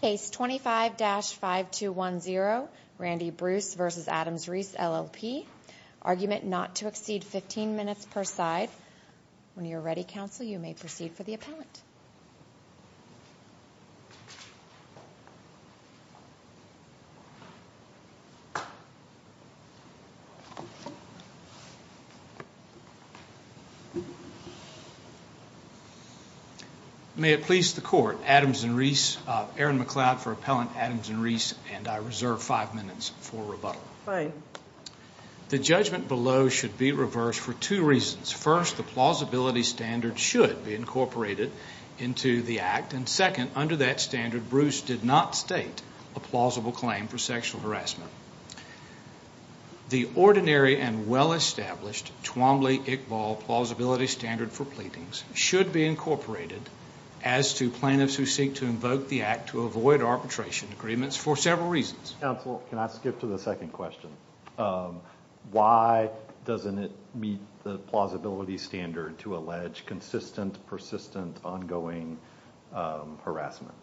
Case 25-5210, Randi Bruce v. Adams and Reese LLP. Argument not to exceed 15 minutes per side. When you're ready, counsel, you may proceed for the appellant. May it please the court, Adams and Reese, Aaron McLeod for appellant Adams and Reese, and I reserve five minutes for rebuttal. Fine. The judgment below should be reversed for two reasons. First, the plausibility standard should be incorporated into the act, and second, under that standard, Bruce did not state a plausible claim for sexual harassment. The ordinary and well-established Twombly-Iqbal plausibility standard for pleadings should be incorporated as to plaintiffs who seek to invoke the act to avoid arbitration agreements for several reasons. Counsel, can I skip to the second question? Why doesn't it meet the plausibility standard to allege consistent, persistent, ongoing harassment?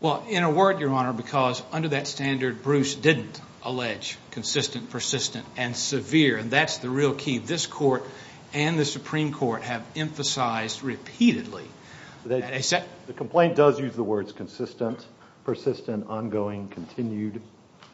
Well, in a word, Your Honor, because under that standard, Bruce didn't allege consistent, persistent, and severe, and that's the real key. This court and the Supreme Court have emphasized repeatedly. The complaint does use the words consistent, persistent, ongoing, continued. It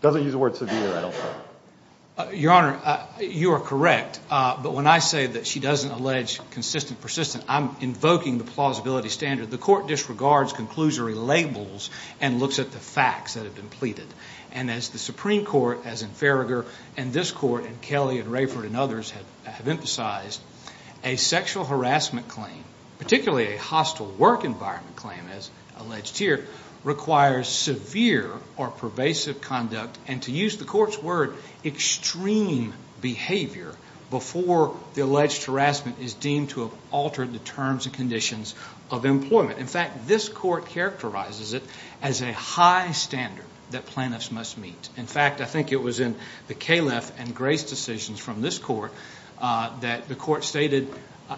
doesn't use the words severe at all. Your Honor, you are correct, but when I say that she doesn't allege consistent, persistent, I'm invoking the plausibility standard. The court disregards conclusory labels and looks at the facts that have been pleaded. And as the Supreme Court, as in Farragher, and this court, and Kelly and Rayford and others have emphasized, a sexual harassment claim, particularly a hostile work environment claim, as alleged here, requires severe or pervasive conduct and, to use the court's word, extreme behavior before the alleged harassment is deemed to have altered the terms and conditions of employment. In fact, this court characterizes it as a high standard that plaintiffs must meet. In fact, I think it was in the Califf and Grace decisions from this court that the court stated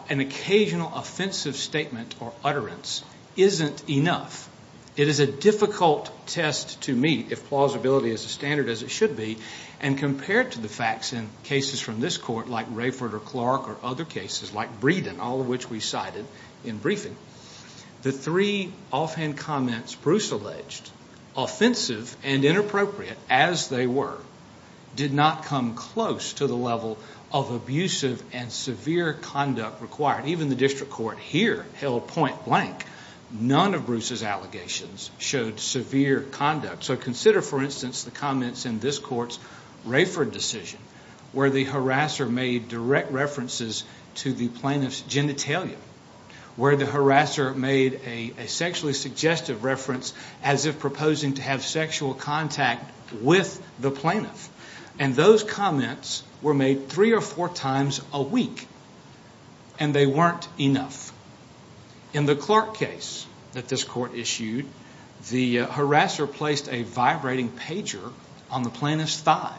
an occasional offensive statement or utterance isn't enough. It is a difficult test to meet if plausibility is as standard as it should be. And compared to the facts in cases from this court, like Rayford or Clark or other cases, like Breeden, all of which we cited in briefing, the three offhand comments Bruce alleged, offensive and inappropriate as they were, did not come close to the level of abusive and severe conduct required. Even the district court here held point blank. None of Bruce's allegations showed severe conduct. So consider, for instance, the comments in this court's Rayford decision, where the harasser made direct references to the plaintiff's genitalia, where the harasser made a sexually suggestive reference as if proposing to have sexual contact with the plaintiff. And those comments were made three or four times a week, and they weren't enough. In the Clark case that this court issued, the harasser placed a vibrating pager on the plaintiff's thigh.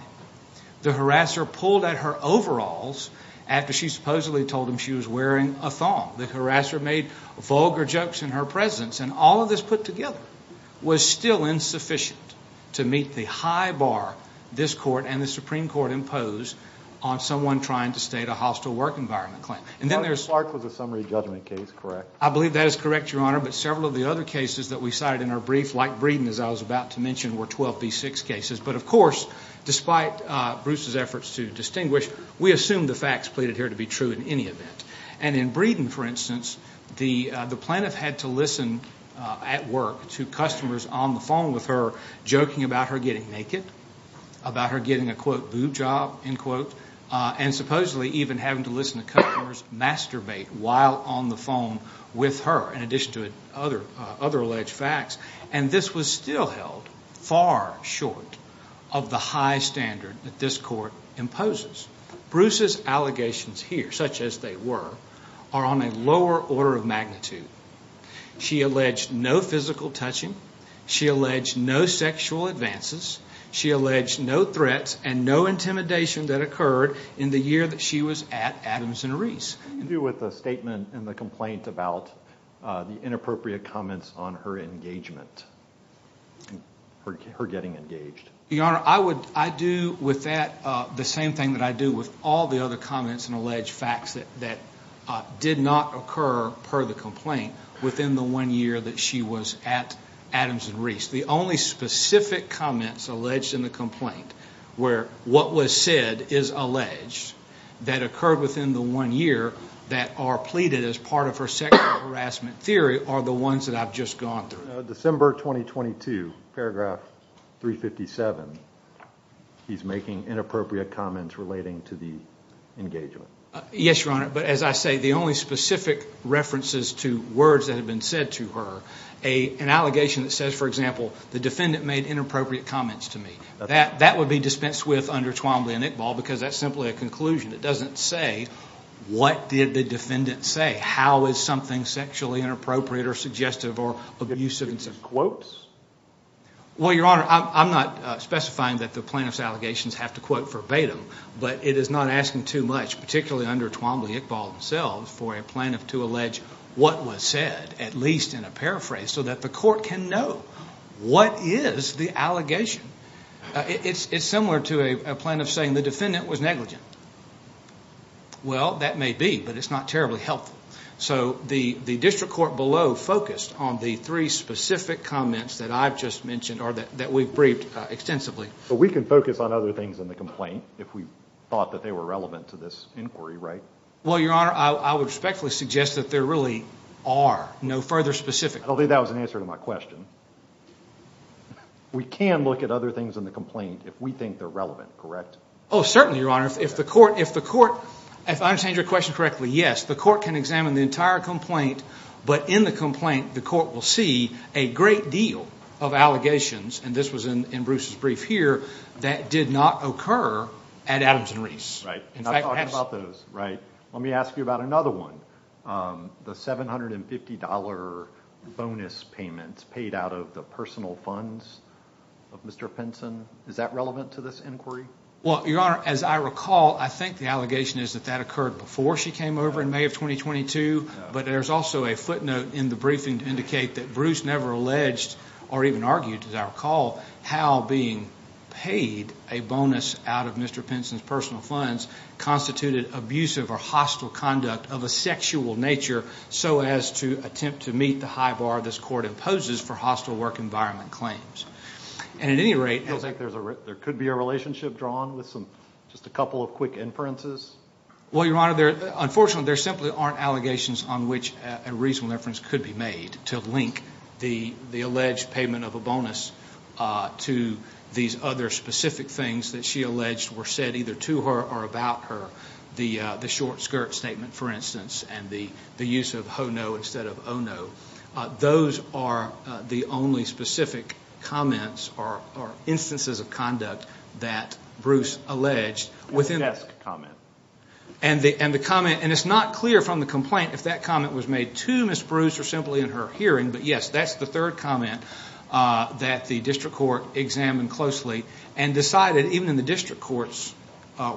The harasser pulled at her overalls after she supposedly told him she was wearing a thong. The harasser made vulgar jokes in her presence, and all of this put together was still insufficient to meet the high bar this court and the Supreme Court imposed on someone trying to state a hostile work environment claim. Clark was a summary judgment case, correct? I believe that is correct, Your Honor, but several of the other cases that we cited in our brief, like Breeden, as I was about to mention, were 12B6 cases. But, of course, despite Bruce's efforts to distinguish, we assume the facts pleaded here to be true in any event. And in Breeden, for instance, the plaintiff had to listen at work to customers on the phone with her joking about her getting naked, about her getting a, quote, boob job, end quote, and supposedly even having to listen to customers masturbate while on the phone with her in addition to other alleged facts. And this was still held far short of the high standard that this court imposes. Bruce's allegations here, such as they were, are on a lower order of magnitude. She alleged no physical touching. She alleged no sexual advances. She alleged no threats and no intimidation that occurred in the year that she was at Adams and Reese. What do you do with the statement and the complaint about the inappropriate comments on her engagement, her getting engaged? Your Honor, I do with that the same thing that I do with all the other comments and alleged facts that did not occur per the complaint within the one year that she was at Adams and Reese. The only specific comments alleged in the complaint where what was said is alleged that occurred within the one year that are pleaded as part of her sexual harassment theory are the ones that I've just gone through. December 2022, paragraph 357, he's making inappropriate comments relating to the engagement. Yes, Your Honor, but as I say, the only specific references to words that have been said to her, an allegation that says, for example, the defendant made inappropriate comments to me, that would be dispensed with under Twombly and Iqbal because that's simply a conclusion. It doesn't say what did the defendant say? How is something sexually inappropriate or suggestive or abusive in some quotes? Well, Your Honor, I'm not specifying that the plaintiff's allegations have to quote verbatim, but it is not asking too much, particularly under Twombly and Iqbal themselves, for a plaintiff to allege what was said, at least in a paraphrase, so that the court can know what is the allegation. It's similar to a plaintiff saying the defendant was negligent. Well, that may be, but it's not terribly helpful. So the district court below focused on the three specific comments that I've just mentioned or that we've briefed extensively. But we can focus on other things in the complaint if we thought that they were relevant to this inquiry, right? Well, Your Honor, I would respectfully suggest that there really are no further specifics. I don't think that was an answer to my question. We can look at other things in the complaint if we think they're relevant, correct? Oh, certainly, Your Honor. If the court, if I understand your question correctly, yes, the court can examine the entire complaint, but in the complaint the court will see a great deal of allegations, and this was in Bruce's brief here, that did not occur at Adams and Reese. Right. I'm talking about those, right? Let me ask you about another one. The $750 bonus payments paid out of the personal funds of Mr. Pinson, is that relevant to this inquiry? Well, Your Honor, as I recall, I think the allegation is that that occurred before she came over in May of 2022, but there's also a footnote in the briefing to indicate that Bruce never alleged or even argued, as I recall, how being paid a bonus out of Mr. Pinson's personal funds constituted abusive or hostile conduct of a sexual nature, so as to attempt to meet the high bar this court imposes for hostile work environment claims. And at any rate— You don't think there could be a relationship drawn with just a couple of quick inferences? Well, Your Honor, unfortunately there simply aren't allegations on which a reasonable inference could be made to link the alleged payment of a bonus to these other specific things that she alleged were said either to her or about her, the short skirt statement, for instance, and the use of ho-no instead of oh-no. Those are the only specific comments or instances of conduct that Bruce alleged within— The desk comment. And the comment—and it's not clear from the complaint if that comment was made to Ms. Bruce or simply in her hearing, but yes, that's the third comment that the district court examined closely and decided, even in the district court's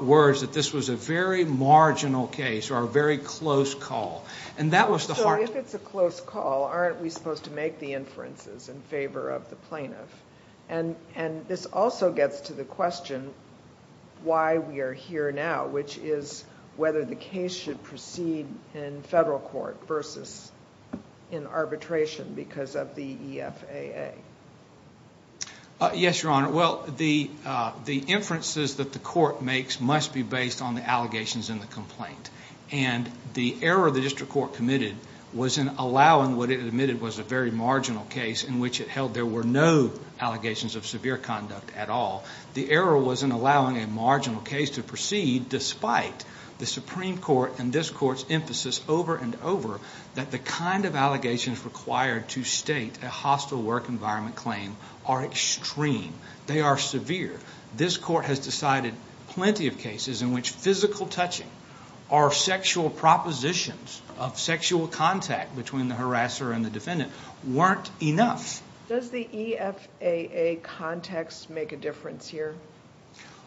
words, that this was a very marginal case or a very close call, and that was the— So if it's a close call, aren't we supposed to make the inferences in favor of the plaintiff? And this also gets to the question why we are here now, which is whether the case should proceed in federal court versus in arbitration because of the EFAA. Yes, Your Honor. Well, the inferences that the court makes must be based on the allegations in the complaint. And the error the district court committed was in allowing what it admitted was a very marginal case in which it held there were no allegations of severe conduct at all. The error was in allowing a marginal case to proceed despite the Supreme Court and this court's emphasis over and over that the kind of allegations required to state a hostile work environment claim are extreme. They are severe. This court has decided plenty of cases in which physical touching or sexual propositions of sexual contact between the harasser and the defendant weren't enough. Does the EFAA context make a difference here?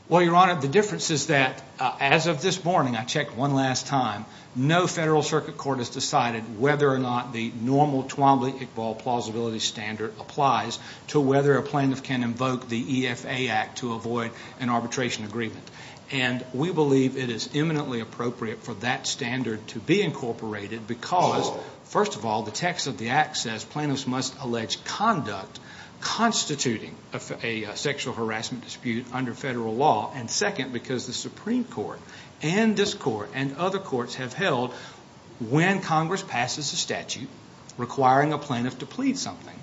Well, Your Honor, the difference is that as of this morning, I checked one last time, no federal circuit court has decided whether or not the normal Twombly-Iqbal plausibility standard applies to whether a plaintiff can invoke the EFAA Act to avoid an arbitration agreement. And we believe it is eminently appropriate for that standard to be incorporated because, first of all, the text of the Act says plaintiffs must allege conduct constituting a sexual harassment dispute under federal law. And second, because the Supreme Court and this court and other courts have held when Congress passes a statute requiring a plaintiff to plead something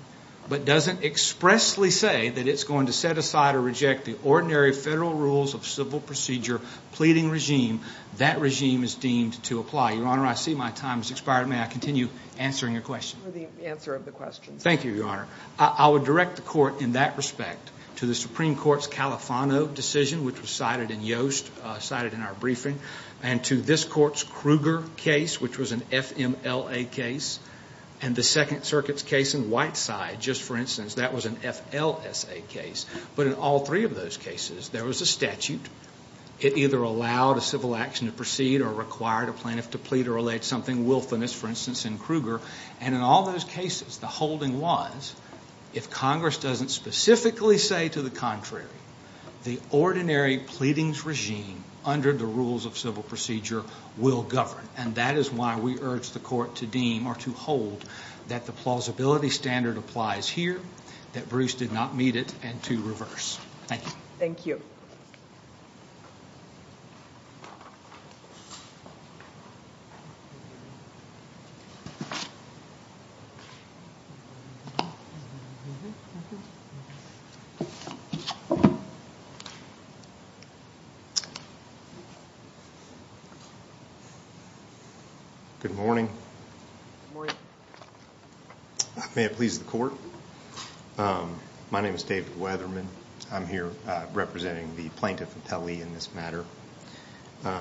but doesn't expressly say that it's going to set aside or reject the ordinary federal rules of civil procedure pleading regime, that regime is deemed to apply. Your Honor, I see my time has expired. May I continue answering your question? The answer of the questions. Thank you, Your Honor. I would direct the court in that respect to the Supreme Court's Califano decision, which was cited in Yoast, cited in our briefing, and to this court's Kruger case, which was an FMLA case, and the Second Circuit's case in Whiteside, just for instance, that was an FLSA case. But in all three of those cases, there was a statute. It either allowed a civil action to proceed or required a plaintiff to plead or allege something wilfulness, for instance, in Kruger. And in all those cases, the holding was if Congress doesn't specifically say to the contrary, the ordinary pleadings regime under the rules of civil procedure will govern. And that is why we urge the court to deem or to hold that the plausibility standard applies here, that Bruce did not meet it, and to reverse. Thank you. Thank you. Good morning. Good morning. May it please the court. My name is David Weatherman. I'm here representing the plaintiff in this matter. You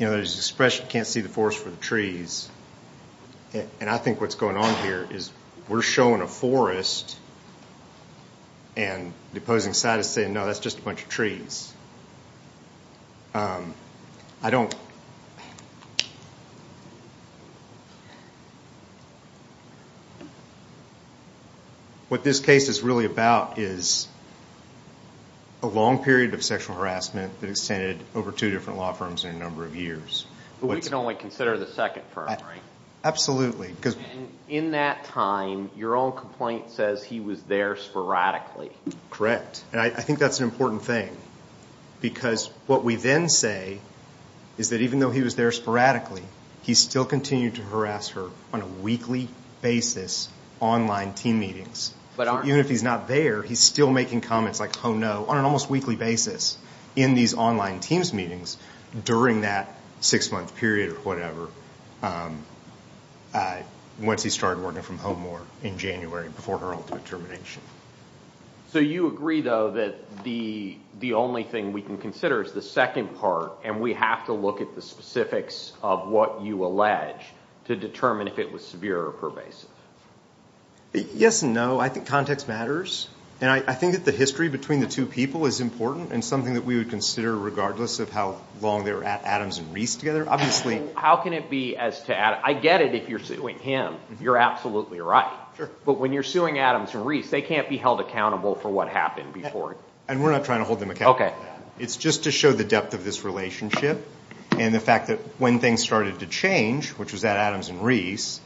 know, there's an expression, you can't see the forest for the trees. And I think what's going on here is we're showing a forest and the opposing side is saying, no, that's just a bunch of trees. I don't ---- What this case is really about is a long period of sexual harassment that extended over two different law firms in a number of years. But we can only consider the second firm, right? Absolutely. And in that time, your own complaint says he was there sporadically. Correct. And I think that's an important thing. Because what we then say is that even though he was there sporadically, he still continued to harass her on a weekly basis, online team meetings. Even if he's not there, he's still making comments like, oh, no, on an almost weekly basis in these online teams meetings during that six-month period or whatever, once he started working from home more in January before her ultimate termination. So you agree, though, that the only thing we can consider is the second part, and we have to look at the specifics of what you allege to determine if it was severe or pervasive? Yes and no. I think context matters. And I think that the history between the two people is important and something that we would consider regardless of how long they were at Adams and Reese together. Obviously, how can it be as to ---- I get it if you're suing him. You're absolutely right. Sure. But when you're suing Adams and Reese, they can't be held accountable for what happened before. And we're not trying to hold them accountable for that. It's just to show the depth of this relationship and the fact that when things started to change, which was at Adams and Reese,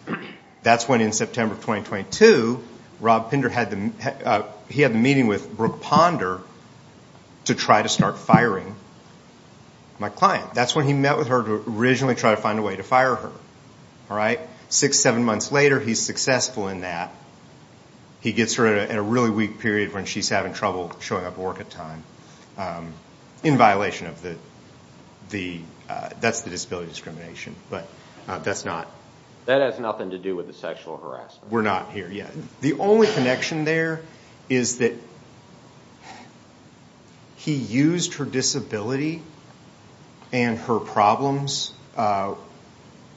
that's when in September of 2022, Rob Pinder had the meeting with Brooke Ponder to try to start firing my client. That's when he met with her to originally try to find a way to fire her. Six, seven months later, he's successful in that. He gets her at a really weak period when she's having trouble showing up to work on time in violation of the ---- that's the disability discrimination, but that's not ---- That has nothing to do with the sexual harassment. We're not here yet. The only connection there is that he used her disability and her problems. The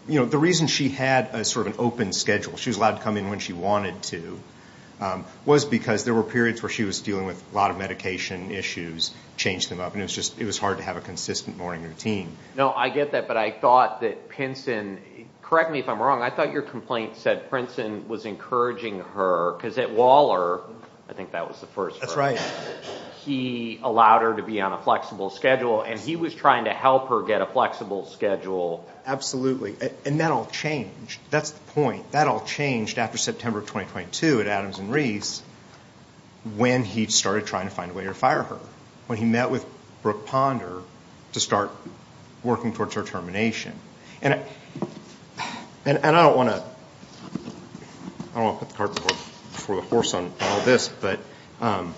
reason she had sort of an open schedule, she was allowed to come in when she wanted to, was because there were periods where she was dealing with a lot of medication issues, changed them up, and it was hard to have a consistent morning routine. No, I get that, but I thought that Pinson, correct me if I'm wrong, I thought your complaint said Pinson was encouraging her, because at Waller, I think that was the first one, he allowed her to be on a flexible schedule, and he was trying to help her get a flexible schedule. Absolutely, and that all changed. That's the point. That all changed after September of 2022 at Adams and Reese when he started trying to find a way to fire her, when he met with Brooke Ponder to start working towards her termination. And I don't want to put the cart before the horse on all this, but all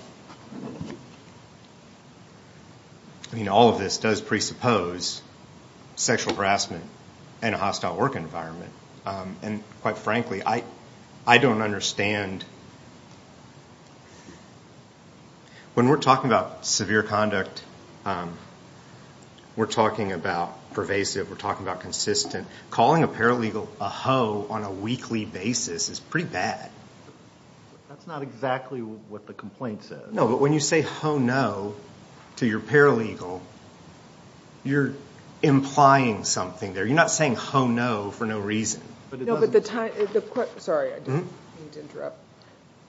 of this does presuppose sexual harassment in a hostile work environment, and quite frankly, I don't understand. When we're talking about severe conduct, we're talking about pervasive, we're talking about consistent. Calling a paralegal a hoe on a weekly basis is pretty bad. That's not exactly what the complaint says. No, but when you say hoe no to your paralegal, you're implying something there. You're not saying hoe no for no reason. Sorry, I didn't mean to interrupt.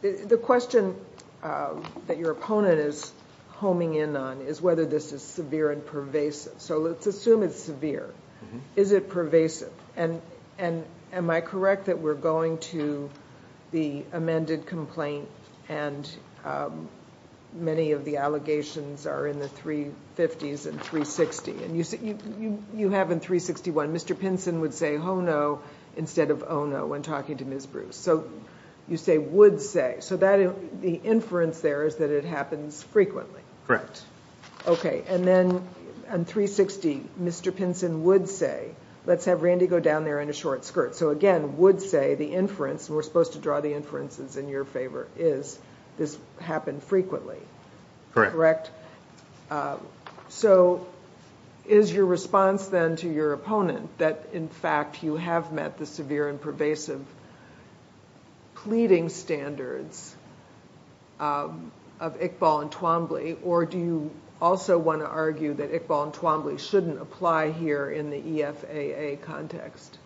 The question that your opponent is homing in on is whether this is severe and pervasive. So let's assume it's severe. Is it pervasive? Am I correct that we're going to the amended complaint and many of the allegations are in the 350s and 360? You have in 361, Mr. Pinson would say hoe no instead of oh no when talking to Ms. Bruce. So you say would say. So the inference there is that it happens frequently. Okay, and then on 360, Mr. Pinson would say let's have Randy go down there in a short skirt. So again, would say the inference, and we're supposed to draw the inferences in your favor, is this happened frequently. Correct. So is your response then to your opponent that, in fact, you have met the severe and pervasive pleading standards of Iqbal and Twombly, or do you also want to argue that Iqbal and Twombly shouldn't apply here in the EFAA context?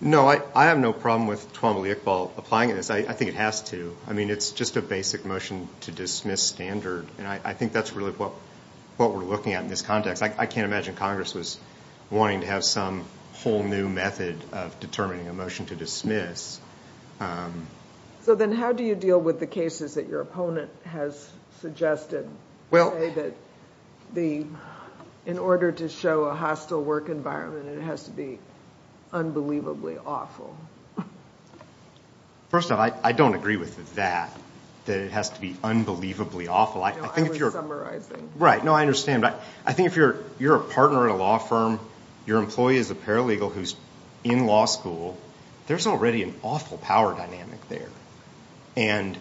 No, I have no problem with Twombly-Iqbal applying this. I think it has to. I mean, it's just a basic motion to dismiss standard, and I think that's really what we're looking at in this context. I can't imagine Congress was wanting to have some whole new method of determining a motion to dismiss. So then how do you deal with the cases that your opponent has suggested, say, that in order to show a hostile work environment, it has to be unbelievably awful? First off, I don't agree with that, that it has to be unbelievably awful. No, I was summarizing. Right, no, I understand. I think if you're a partner in a law firm, your employee is a paralegal who's in law school, there's already an awful power dynamic there. And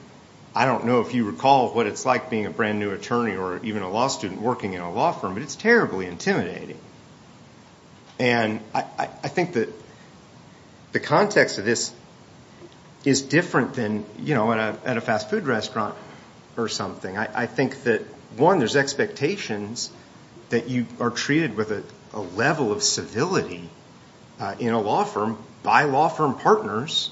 I don't know if you recall what it's like being a brand-new attorney or even a law student working in a law firm, but it's terribly intimidating. And I think that the context of this is different than, you know, at a fast food restaurant or something. I think that, one, there's expectations that you are treated with a level of civility in a law firm by law firm partners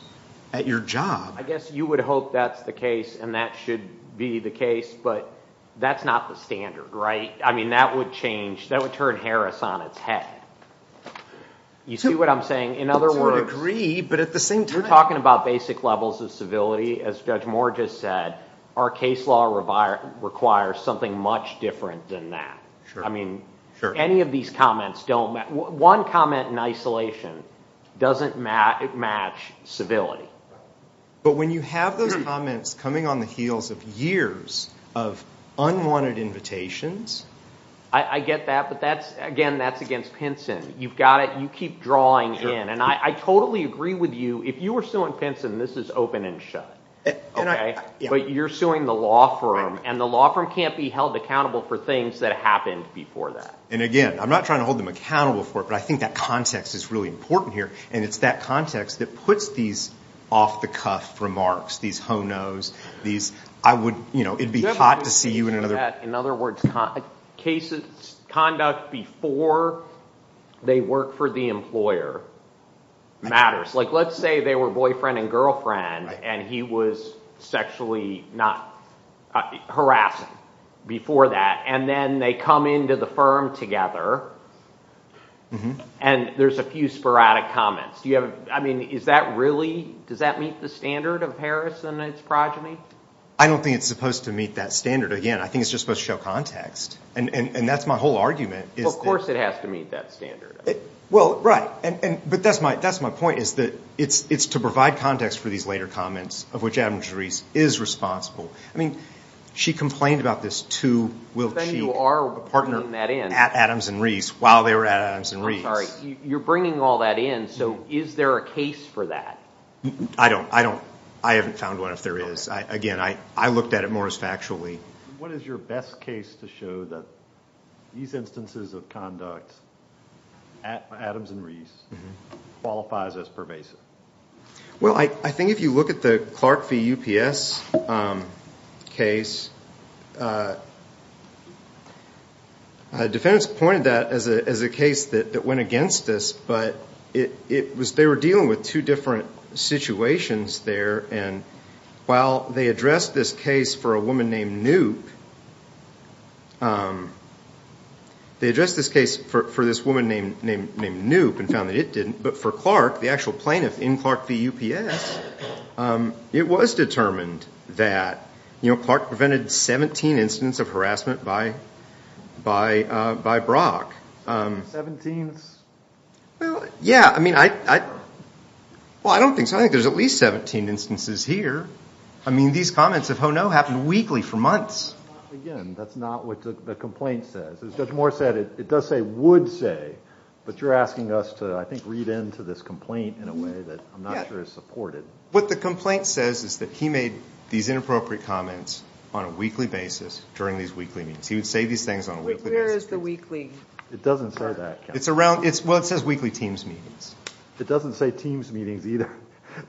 at your job. I guess you would hope that's the case and that should be the case, but that's not the standard, right? I mean, that would change. That would turn Harris on its head. You see what I'm saying? In other words— I sort of agree, but at the same time— When you're talking about basic levels of civility, as Judge Moore just said, our case law requires something much different than that. I mean, any of these comments don't—one comment in isolation doesn't match civility. But when you have those comments coming on the heels of years of unwanted invitations— I get that, but again, that's against Pinson. You've got to—you keep drawing in. And I totally agree with you. If you were suing Pinson, this is open and shut, okay? But you're suing the law firm, and the law firm can't be held accountable for things that happened before that. And again, I'm not trying to hold them accountable for it, but I think that context is really important here, and it's that context that puts these off-the-cuff remarks, these ho-nos, these— I would—you know, it would be hot to see you in another— They work for the employer matters. Like, let's say they were boyfriend and girlfriend, and he was sexually not harassed before that, and then they come into the firm together, and there's a few sporadic comments. Do you have—I mean, is that really—does that meet the standard of Harris and its progeny? I don't think it's supposed to meet that standard. Again, I think it's just supposed to show context, and that's my whole argument. Well, of course it has to meet that standard. Well, right. But that's my point, is that it's to provide context for these later comments, of which Adams and Reese is responsible. I mean, she complained about this to Will Cheek, a partner at Adams and Reese, while they were at Adams and Reese. I'm sorry. You're bringing all that in, so is there a case for that? I don't. I haven't found one, if there is. Again, I looked at it more as factually. What is your best case to show that these instances of conduct at Adams and Reese qualifies as pervasive? Well, I think if you look at the Clark v. UPS case, defendants pointed that as a case that went against this, but they were dealing with two different situations there, and while they addressed this case for a woman named Newt, they addressed this case for this woman named Newt and found that it didn't, but for Clark, the actual plaintiff in Clark v. UPS, it was determined that Clark prevented 17 incidents of harassment by Brock. Seventeens? Well, yeah. I mean, I don't think so. I think there's at least 17 instances here. I mean, these comments of, oh, no, happened weekly for months. Again, that's not what the complaint says. As Judge Moore said, it does say would say, but you're asking us to, I think, read into this complaint in a way that I'm not sure is supported. What the complaint says is that he made these inappropriate comments on a weekly basis during these weekly meetings. He would say these things on a weekly basis. Wait. Where is the weekly? It doesn't say that. Well, it says weekly teams meetings. It doesn't say teams meetings either.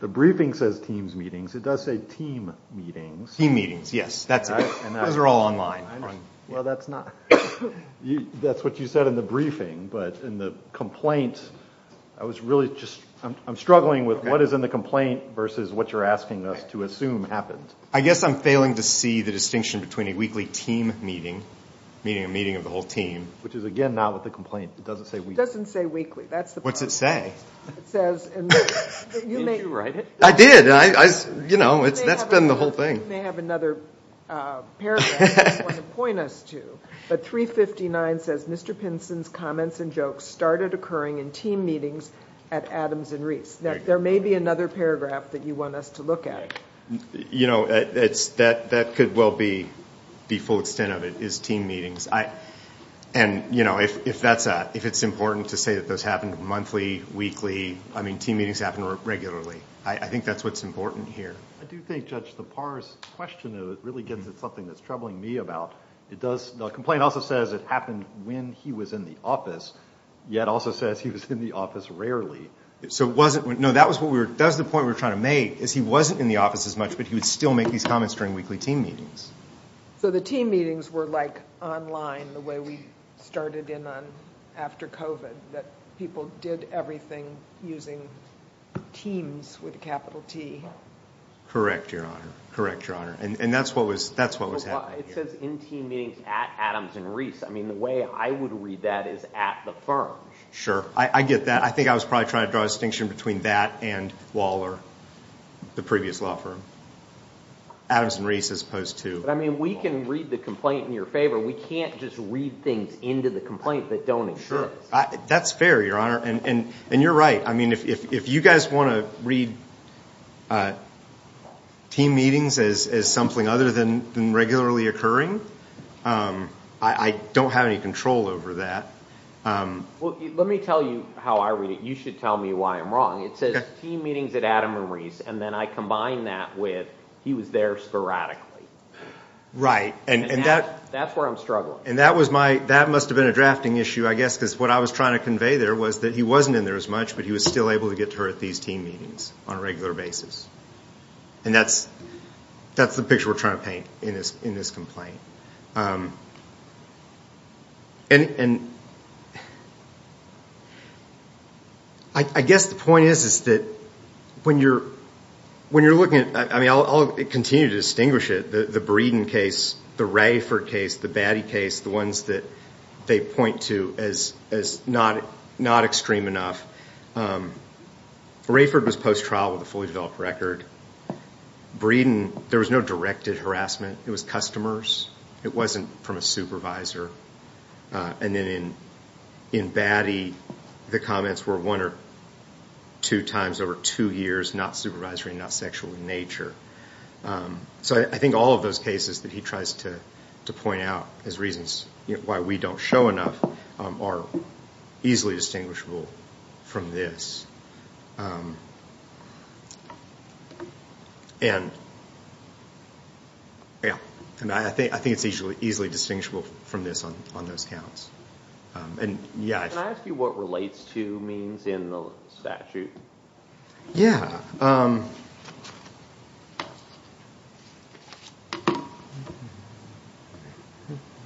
The briefing says teams meetings. It does say team meetings. Team meetings, yes. Those are all online. Well, that's what you said in the briefing, but in the complaint, I was really just, I'm struggling with what is in the complaint versus what you're asking us to assume happened. I guess I'm failing to see the distinction between a weekly team meeting, meaning a meeting of the whole team. Which is, again, not what the complaint, it doesn't say weekly. It doesn't say weekly. What's it say? It says. Didn't you write it? I did. You know, that's been the whole thing. You may have another paragraph that you want to point us to, but 359 says Mr. Pinson's comments and jokes started occurring in team meetings at Adams and Reese. There may be another paragraph that you want us to look at. You know, that could well be the full extent of it, is team meetings. And, you know, if it's important to say that those happen monthly, weekly, I mean, team meetings happen regularly. I think that's what's important here. I do think, Judge, the PARS question really gets at something that's troubling me about, the complaint also says it happened when he was in the office, yet also says he was in the office rarely. No, that was the point we were trying to make, is he wasn't in the office as much, but he would still make these comments during weekly team meetings. So the team meetings were, like, online the way we started in on after COVID, that people did everything using teams with a capital T. Correct, Your Honor. Correct, Your Honor. And that's what was happening here. It says in team meetings at Adams and Reese. I mean, the way I would read that is at the firm. Sure, I get that. But I think I was probably trying to draw a distinction between that and Waller, the previous law firm. Adams and Reese is opposed to Waller. But, I mean, we can read the complaint in your favor. We can't just read things into the complaint that don't exist. That's fair, Your Honor, and you're right. I mean, if you guys want to read team meetings as something other than regularly occurring, I don't have any control over that. Well, let me tell you how I read it. You should tell me why I'm wrong. It says team meetings at Adams and Reese, and then I combine that with he was there sporadically. Right. And that's where I'm struggling. And that must have been a drafting issue, I guess, because what I was trying to convey there was that he wasn't in there as much, but he was still able to get to her at these team meetings on a regular basis. And that's the picture we're trying to paint in this complaint. And I guess the point is that when you're looking at it, I mean, I'll continue to distinguish it. The Breeden case, the Rayford case, the Batty case, the ones that they point to as not extreme enough, Rayford was post-trial with a fully developed record. Breeden, there was no directed harassment. It was customers. It wasn't from a supervisor. And then in Batty, the comments were one or two times over two years, not supervisory, not sexual in nature. So I think all of those cases that he tries to point out as reasons why we don't show enough are easily distinguishable from this. And I think it's easily distinguishable from this on those counts. Can I ask you what relates to means in the statute? Yeah.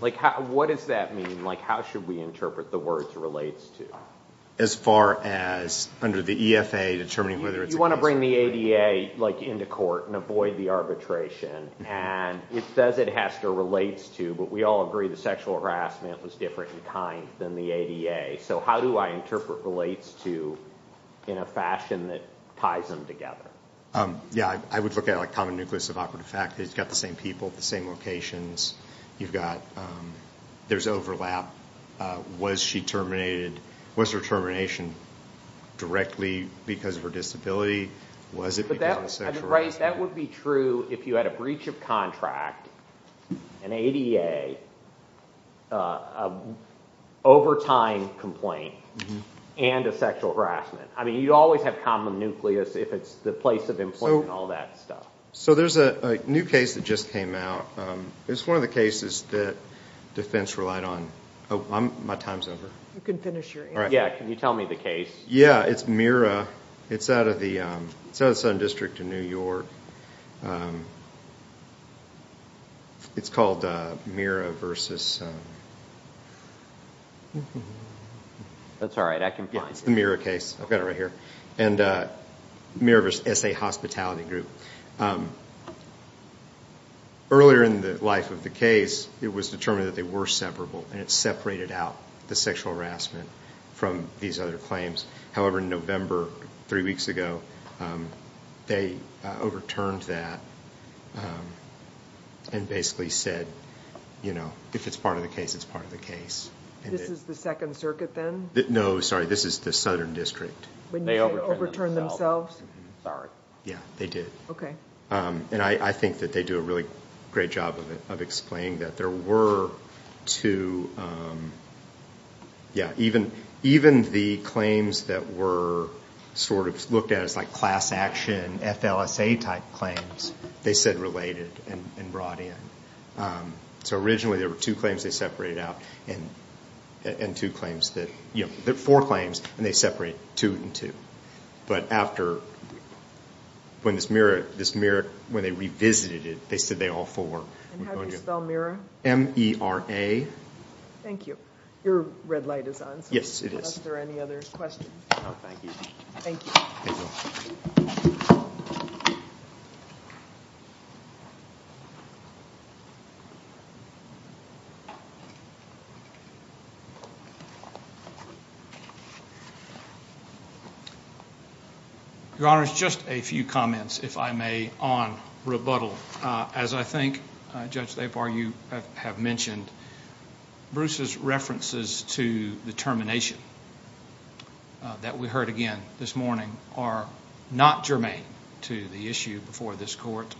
What does that mean? How should we interpret the words relates to? As far as under the EFA determining whether it's a case or not. You want to bring the ADA into court and avoid the arbitration. And it says it has to relates to, but we all agree the sexual harassment was different in kind than the ADA. So how do I interpret relates to in a fashion that ties them together? Yeah. I would look at it like common nucleus of awkward fact. It's got the same people, the same locations. You've got there's overlap. Was she terminated? Was her termination directly because of her disability? Was it because of sexual harassment? That would be true if you had a breach of contract, an ADA, an overtime complaint, and a sexual harassment. I mean, you always have common nucleus if it's the place of employment and all that stuff. So there's a new case that just came out. It's one of the cases that defense relied on. My time's over. You can finish your answer. Yeah. Can you tell me the case? Yeah. It's Mira. It's out of the Southern District in New York. It's called Mira versus. That's all right. I can find it. Yeah. It's the Mira case. I've got it right here. Mira versus S.A. Hospitality Group. Earlier in the life of the case, it was determined that they were separable, and it separated out the sexual harassment from these other claims. However, in November, three weeks ago, they overturned that and basically said, you know, if it's part of the case, it's part of the case. This is the Second Circuit then? No, sorry. This is the Southern District. They overturned themselves? Sorry. Yeah, they did. And I think that they do a really great job of explaining that there were two. Yeah, even the claims that were sort of looked at as, like, class action, FLSA-type claims, they said related and brought in. So originally there were two claims they separated out and two claims that, you know, there are four claims and they separate two and two. But after when this Mira, when they revisited it, they said they all four. And how do you spell Mira? M-E-R-A. Thank you. Your red light is on. Yes, it is. Are there any other questions? No, thank you. Thank you. Thank you. Your Honor, just a few comments, if I may, on rebuttal. As I think, Judge Thapar, you have mentioned, Bruce's references to the termination that we heard again this morning are not germane to the issue before this court.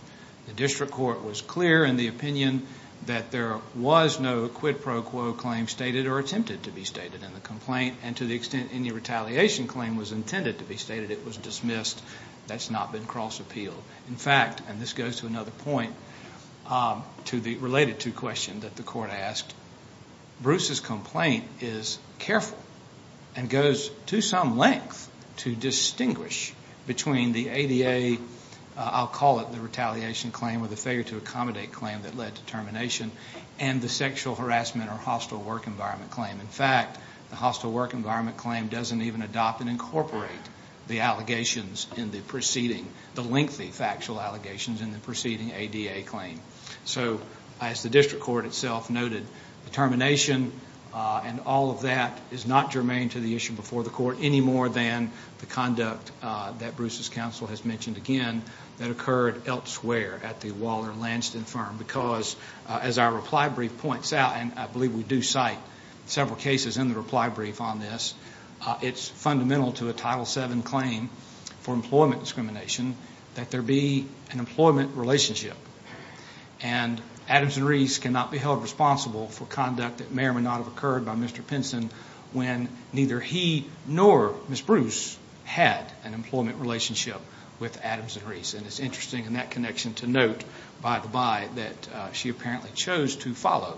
The district court was clear in the opinion that there was no quid pro quo claim stated or attempted to be stated in the complaint. And to the extent any retaliation claim was intended to be stated, it was dismissed. That's not been cross-appealed. In fact, and this goes to another point related to a question that the court asked, Bruce's complaint is careful and goes to some length to distinguish between the ADA, I'll call it the retaliation claim or the failure to accommodate claim that led to termination, and the sexual harassment or hostile work environment claim. In fact, the hostile work environment claim doesn't even adopt and incorporate the allegations in the preceding, the lengthy factual allegations in the preceding ADA claim. So, as the district court itself noted, the termination and all of that is not germane to the issue before the court any more than the conduct that Bruce's counsel has mentioned again that occurred elsewhere at the Waller-Lanston firm. As our reply brief points out, and I believe we do cite several cases in the reply brief on this, it's fundamental to a Title VII claim for employment discrimination that there be an employment relationship. And Adams and Reese cannot be held responsible for conduct that may or may not have occurred by Mr. Pinson when neither he nor Ms. Bruce had an employment relationship with Adams and Reese. And it's interesting in that connection to note by the by that she apparently chose to follow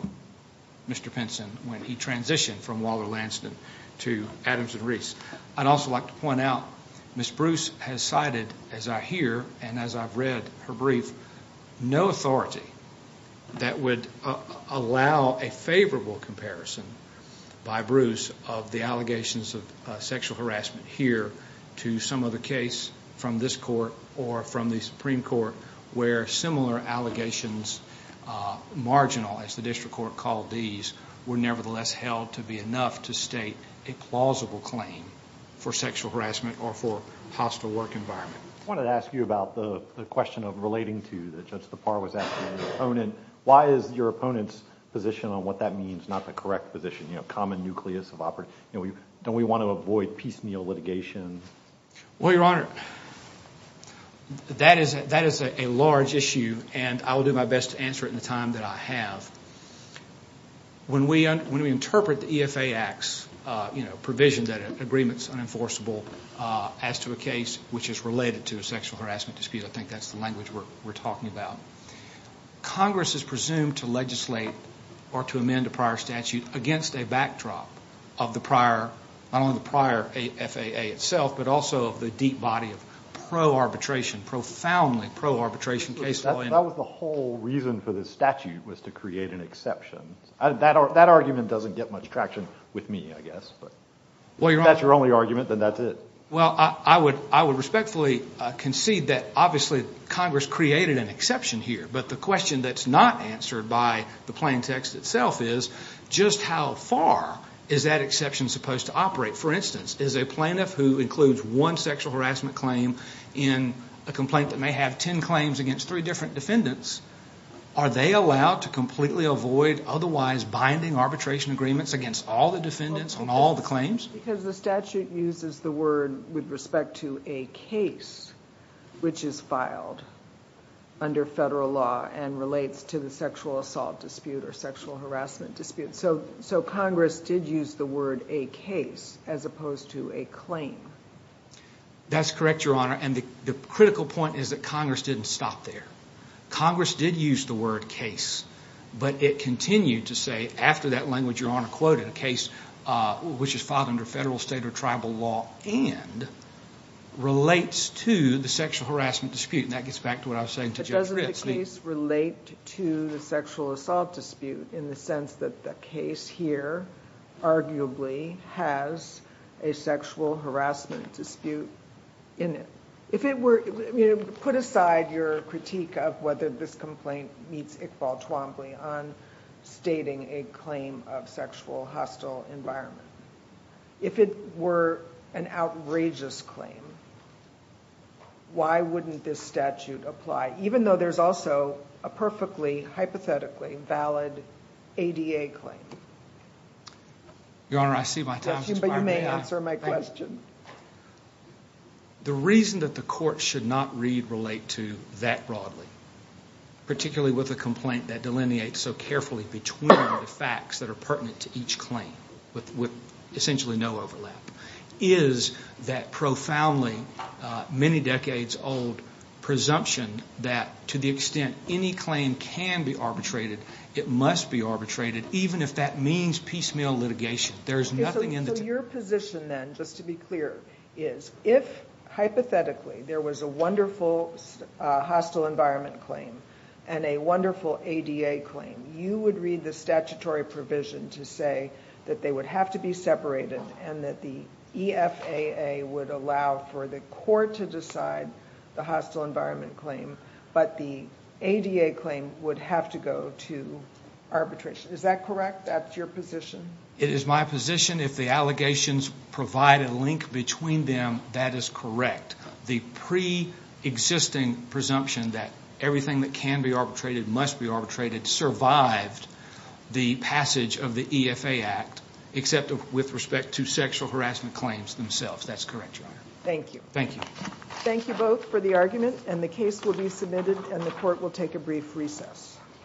Mr. Pinson when he transitioned from Waller-Lanston to Adams and Reese. I'd also like to point out Ms. Bruce has cited, as I hear and as I've read her brief, no authority that would allow a favorable comparison by Bruce of the allegations of sexual harassment here to some other case from this court or from the Supreme Court where similar allegations marginal, as the district court called these, were nevertheless held to be enough to state a plausible claim for sexual harassment or for hostile work environment. I wanted to ask you about the question of relating to, that Judge Lepar was asking the opponent, why is your opponent's position on what that means not the correct position, don't we want to avoid piecemeal litigation? Well, Your Honor, that is a large issue and I will do my best to answer it in the time that I have. When we interpret the EFA Act's provision that an agreement is unenforceable as to a case which is related to a sexual harassment dispute, I think that's the language we're talking about. Congress is presumed to legislate or to amend a prior statute against a backdrop of the prior, not only the prior FAA itself, but also of the deep body of pro-arbitration, profoundly pro-arbitration case law. That was the whole reason for this statute was to create an exception. That argument doesn't get much traction with me, I guess. If that's your only argument, then that's it. Well, I would respectfully concede that obviously Congress created an exception here, but the question that's not answered by the plain text itself is just how far is that exception supposed to operate? For instance, is a plaintiff who includes one sexual harassment claim in a complaint that may have ten claims against three different defendants, are they allowed to completely avoid otherwise binding arbitration agreements against all the defendants on all the claims? Because the statute uses the word with respect to a case which is filed under federal law and relates to the sexual assault dispute or sexual harassment dispute. So Congress did use the word a case as opposed to a claim. That's correct, Your Honor, and the critical point is that Congress didn't stop there. Congress did use the word case, but it continued to say, after that language Your Honor quoted, a case which is filed under federal, state, or tribal law and relates to the sexual harassment dispute. And that gets back to what I was saying to Judge Ritzley. But doesn't the case relate to the sexual assault dispute in the sense that the case here arguably has a sexual harassment dispute in it? Put aside your critique of whether this complaint meets Iqbal Twombly on stating a claim of sexual hostile environment. If it were an outrageous claim, why wouldn't this statute apply, even though there's also a perfectly, hypothetically valid ADA claim? Your Honor, I see my time has expired. But you may answer my question. The reason that the Court should not read relate to that broadly, particularly with a complaint that delineates so carefully between the facts that are pertinent to each claim, with essentially no overlap, is that profoundly many decades old presumption that to the extent any claim can be arbitrated, it must be arbitrated, even if that means piecemeal litigation. Your position then, just to be clear, is if hypothetically there was a wonderful hostile environment claim and a wonderful ADA claim, you would read the statutory provision to say that they would have to be separated and that the EFAA would allow for the Court to decide the hostile environment claim, but the ADA claim would have to go to arbitration. Is that correct? That's your position? It is my position if the allegations provide a link between them, that is correct. The pre-existing presumption that everything that can be arbitrated must be arbitrated survived the passage of the EFAA Act, except with respect to sexual harassment claims themselves. That's correct, Your Honor. Thank you. Thank you. Thank you both for the argument, and the case will be submitted and the Court will take a brief recess.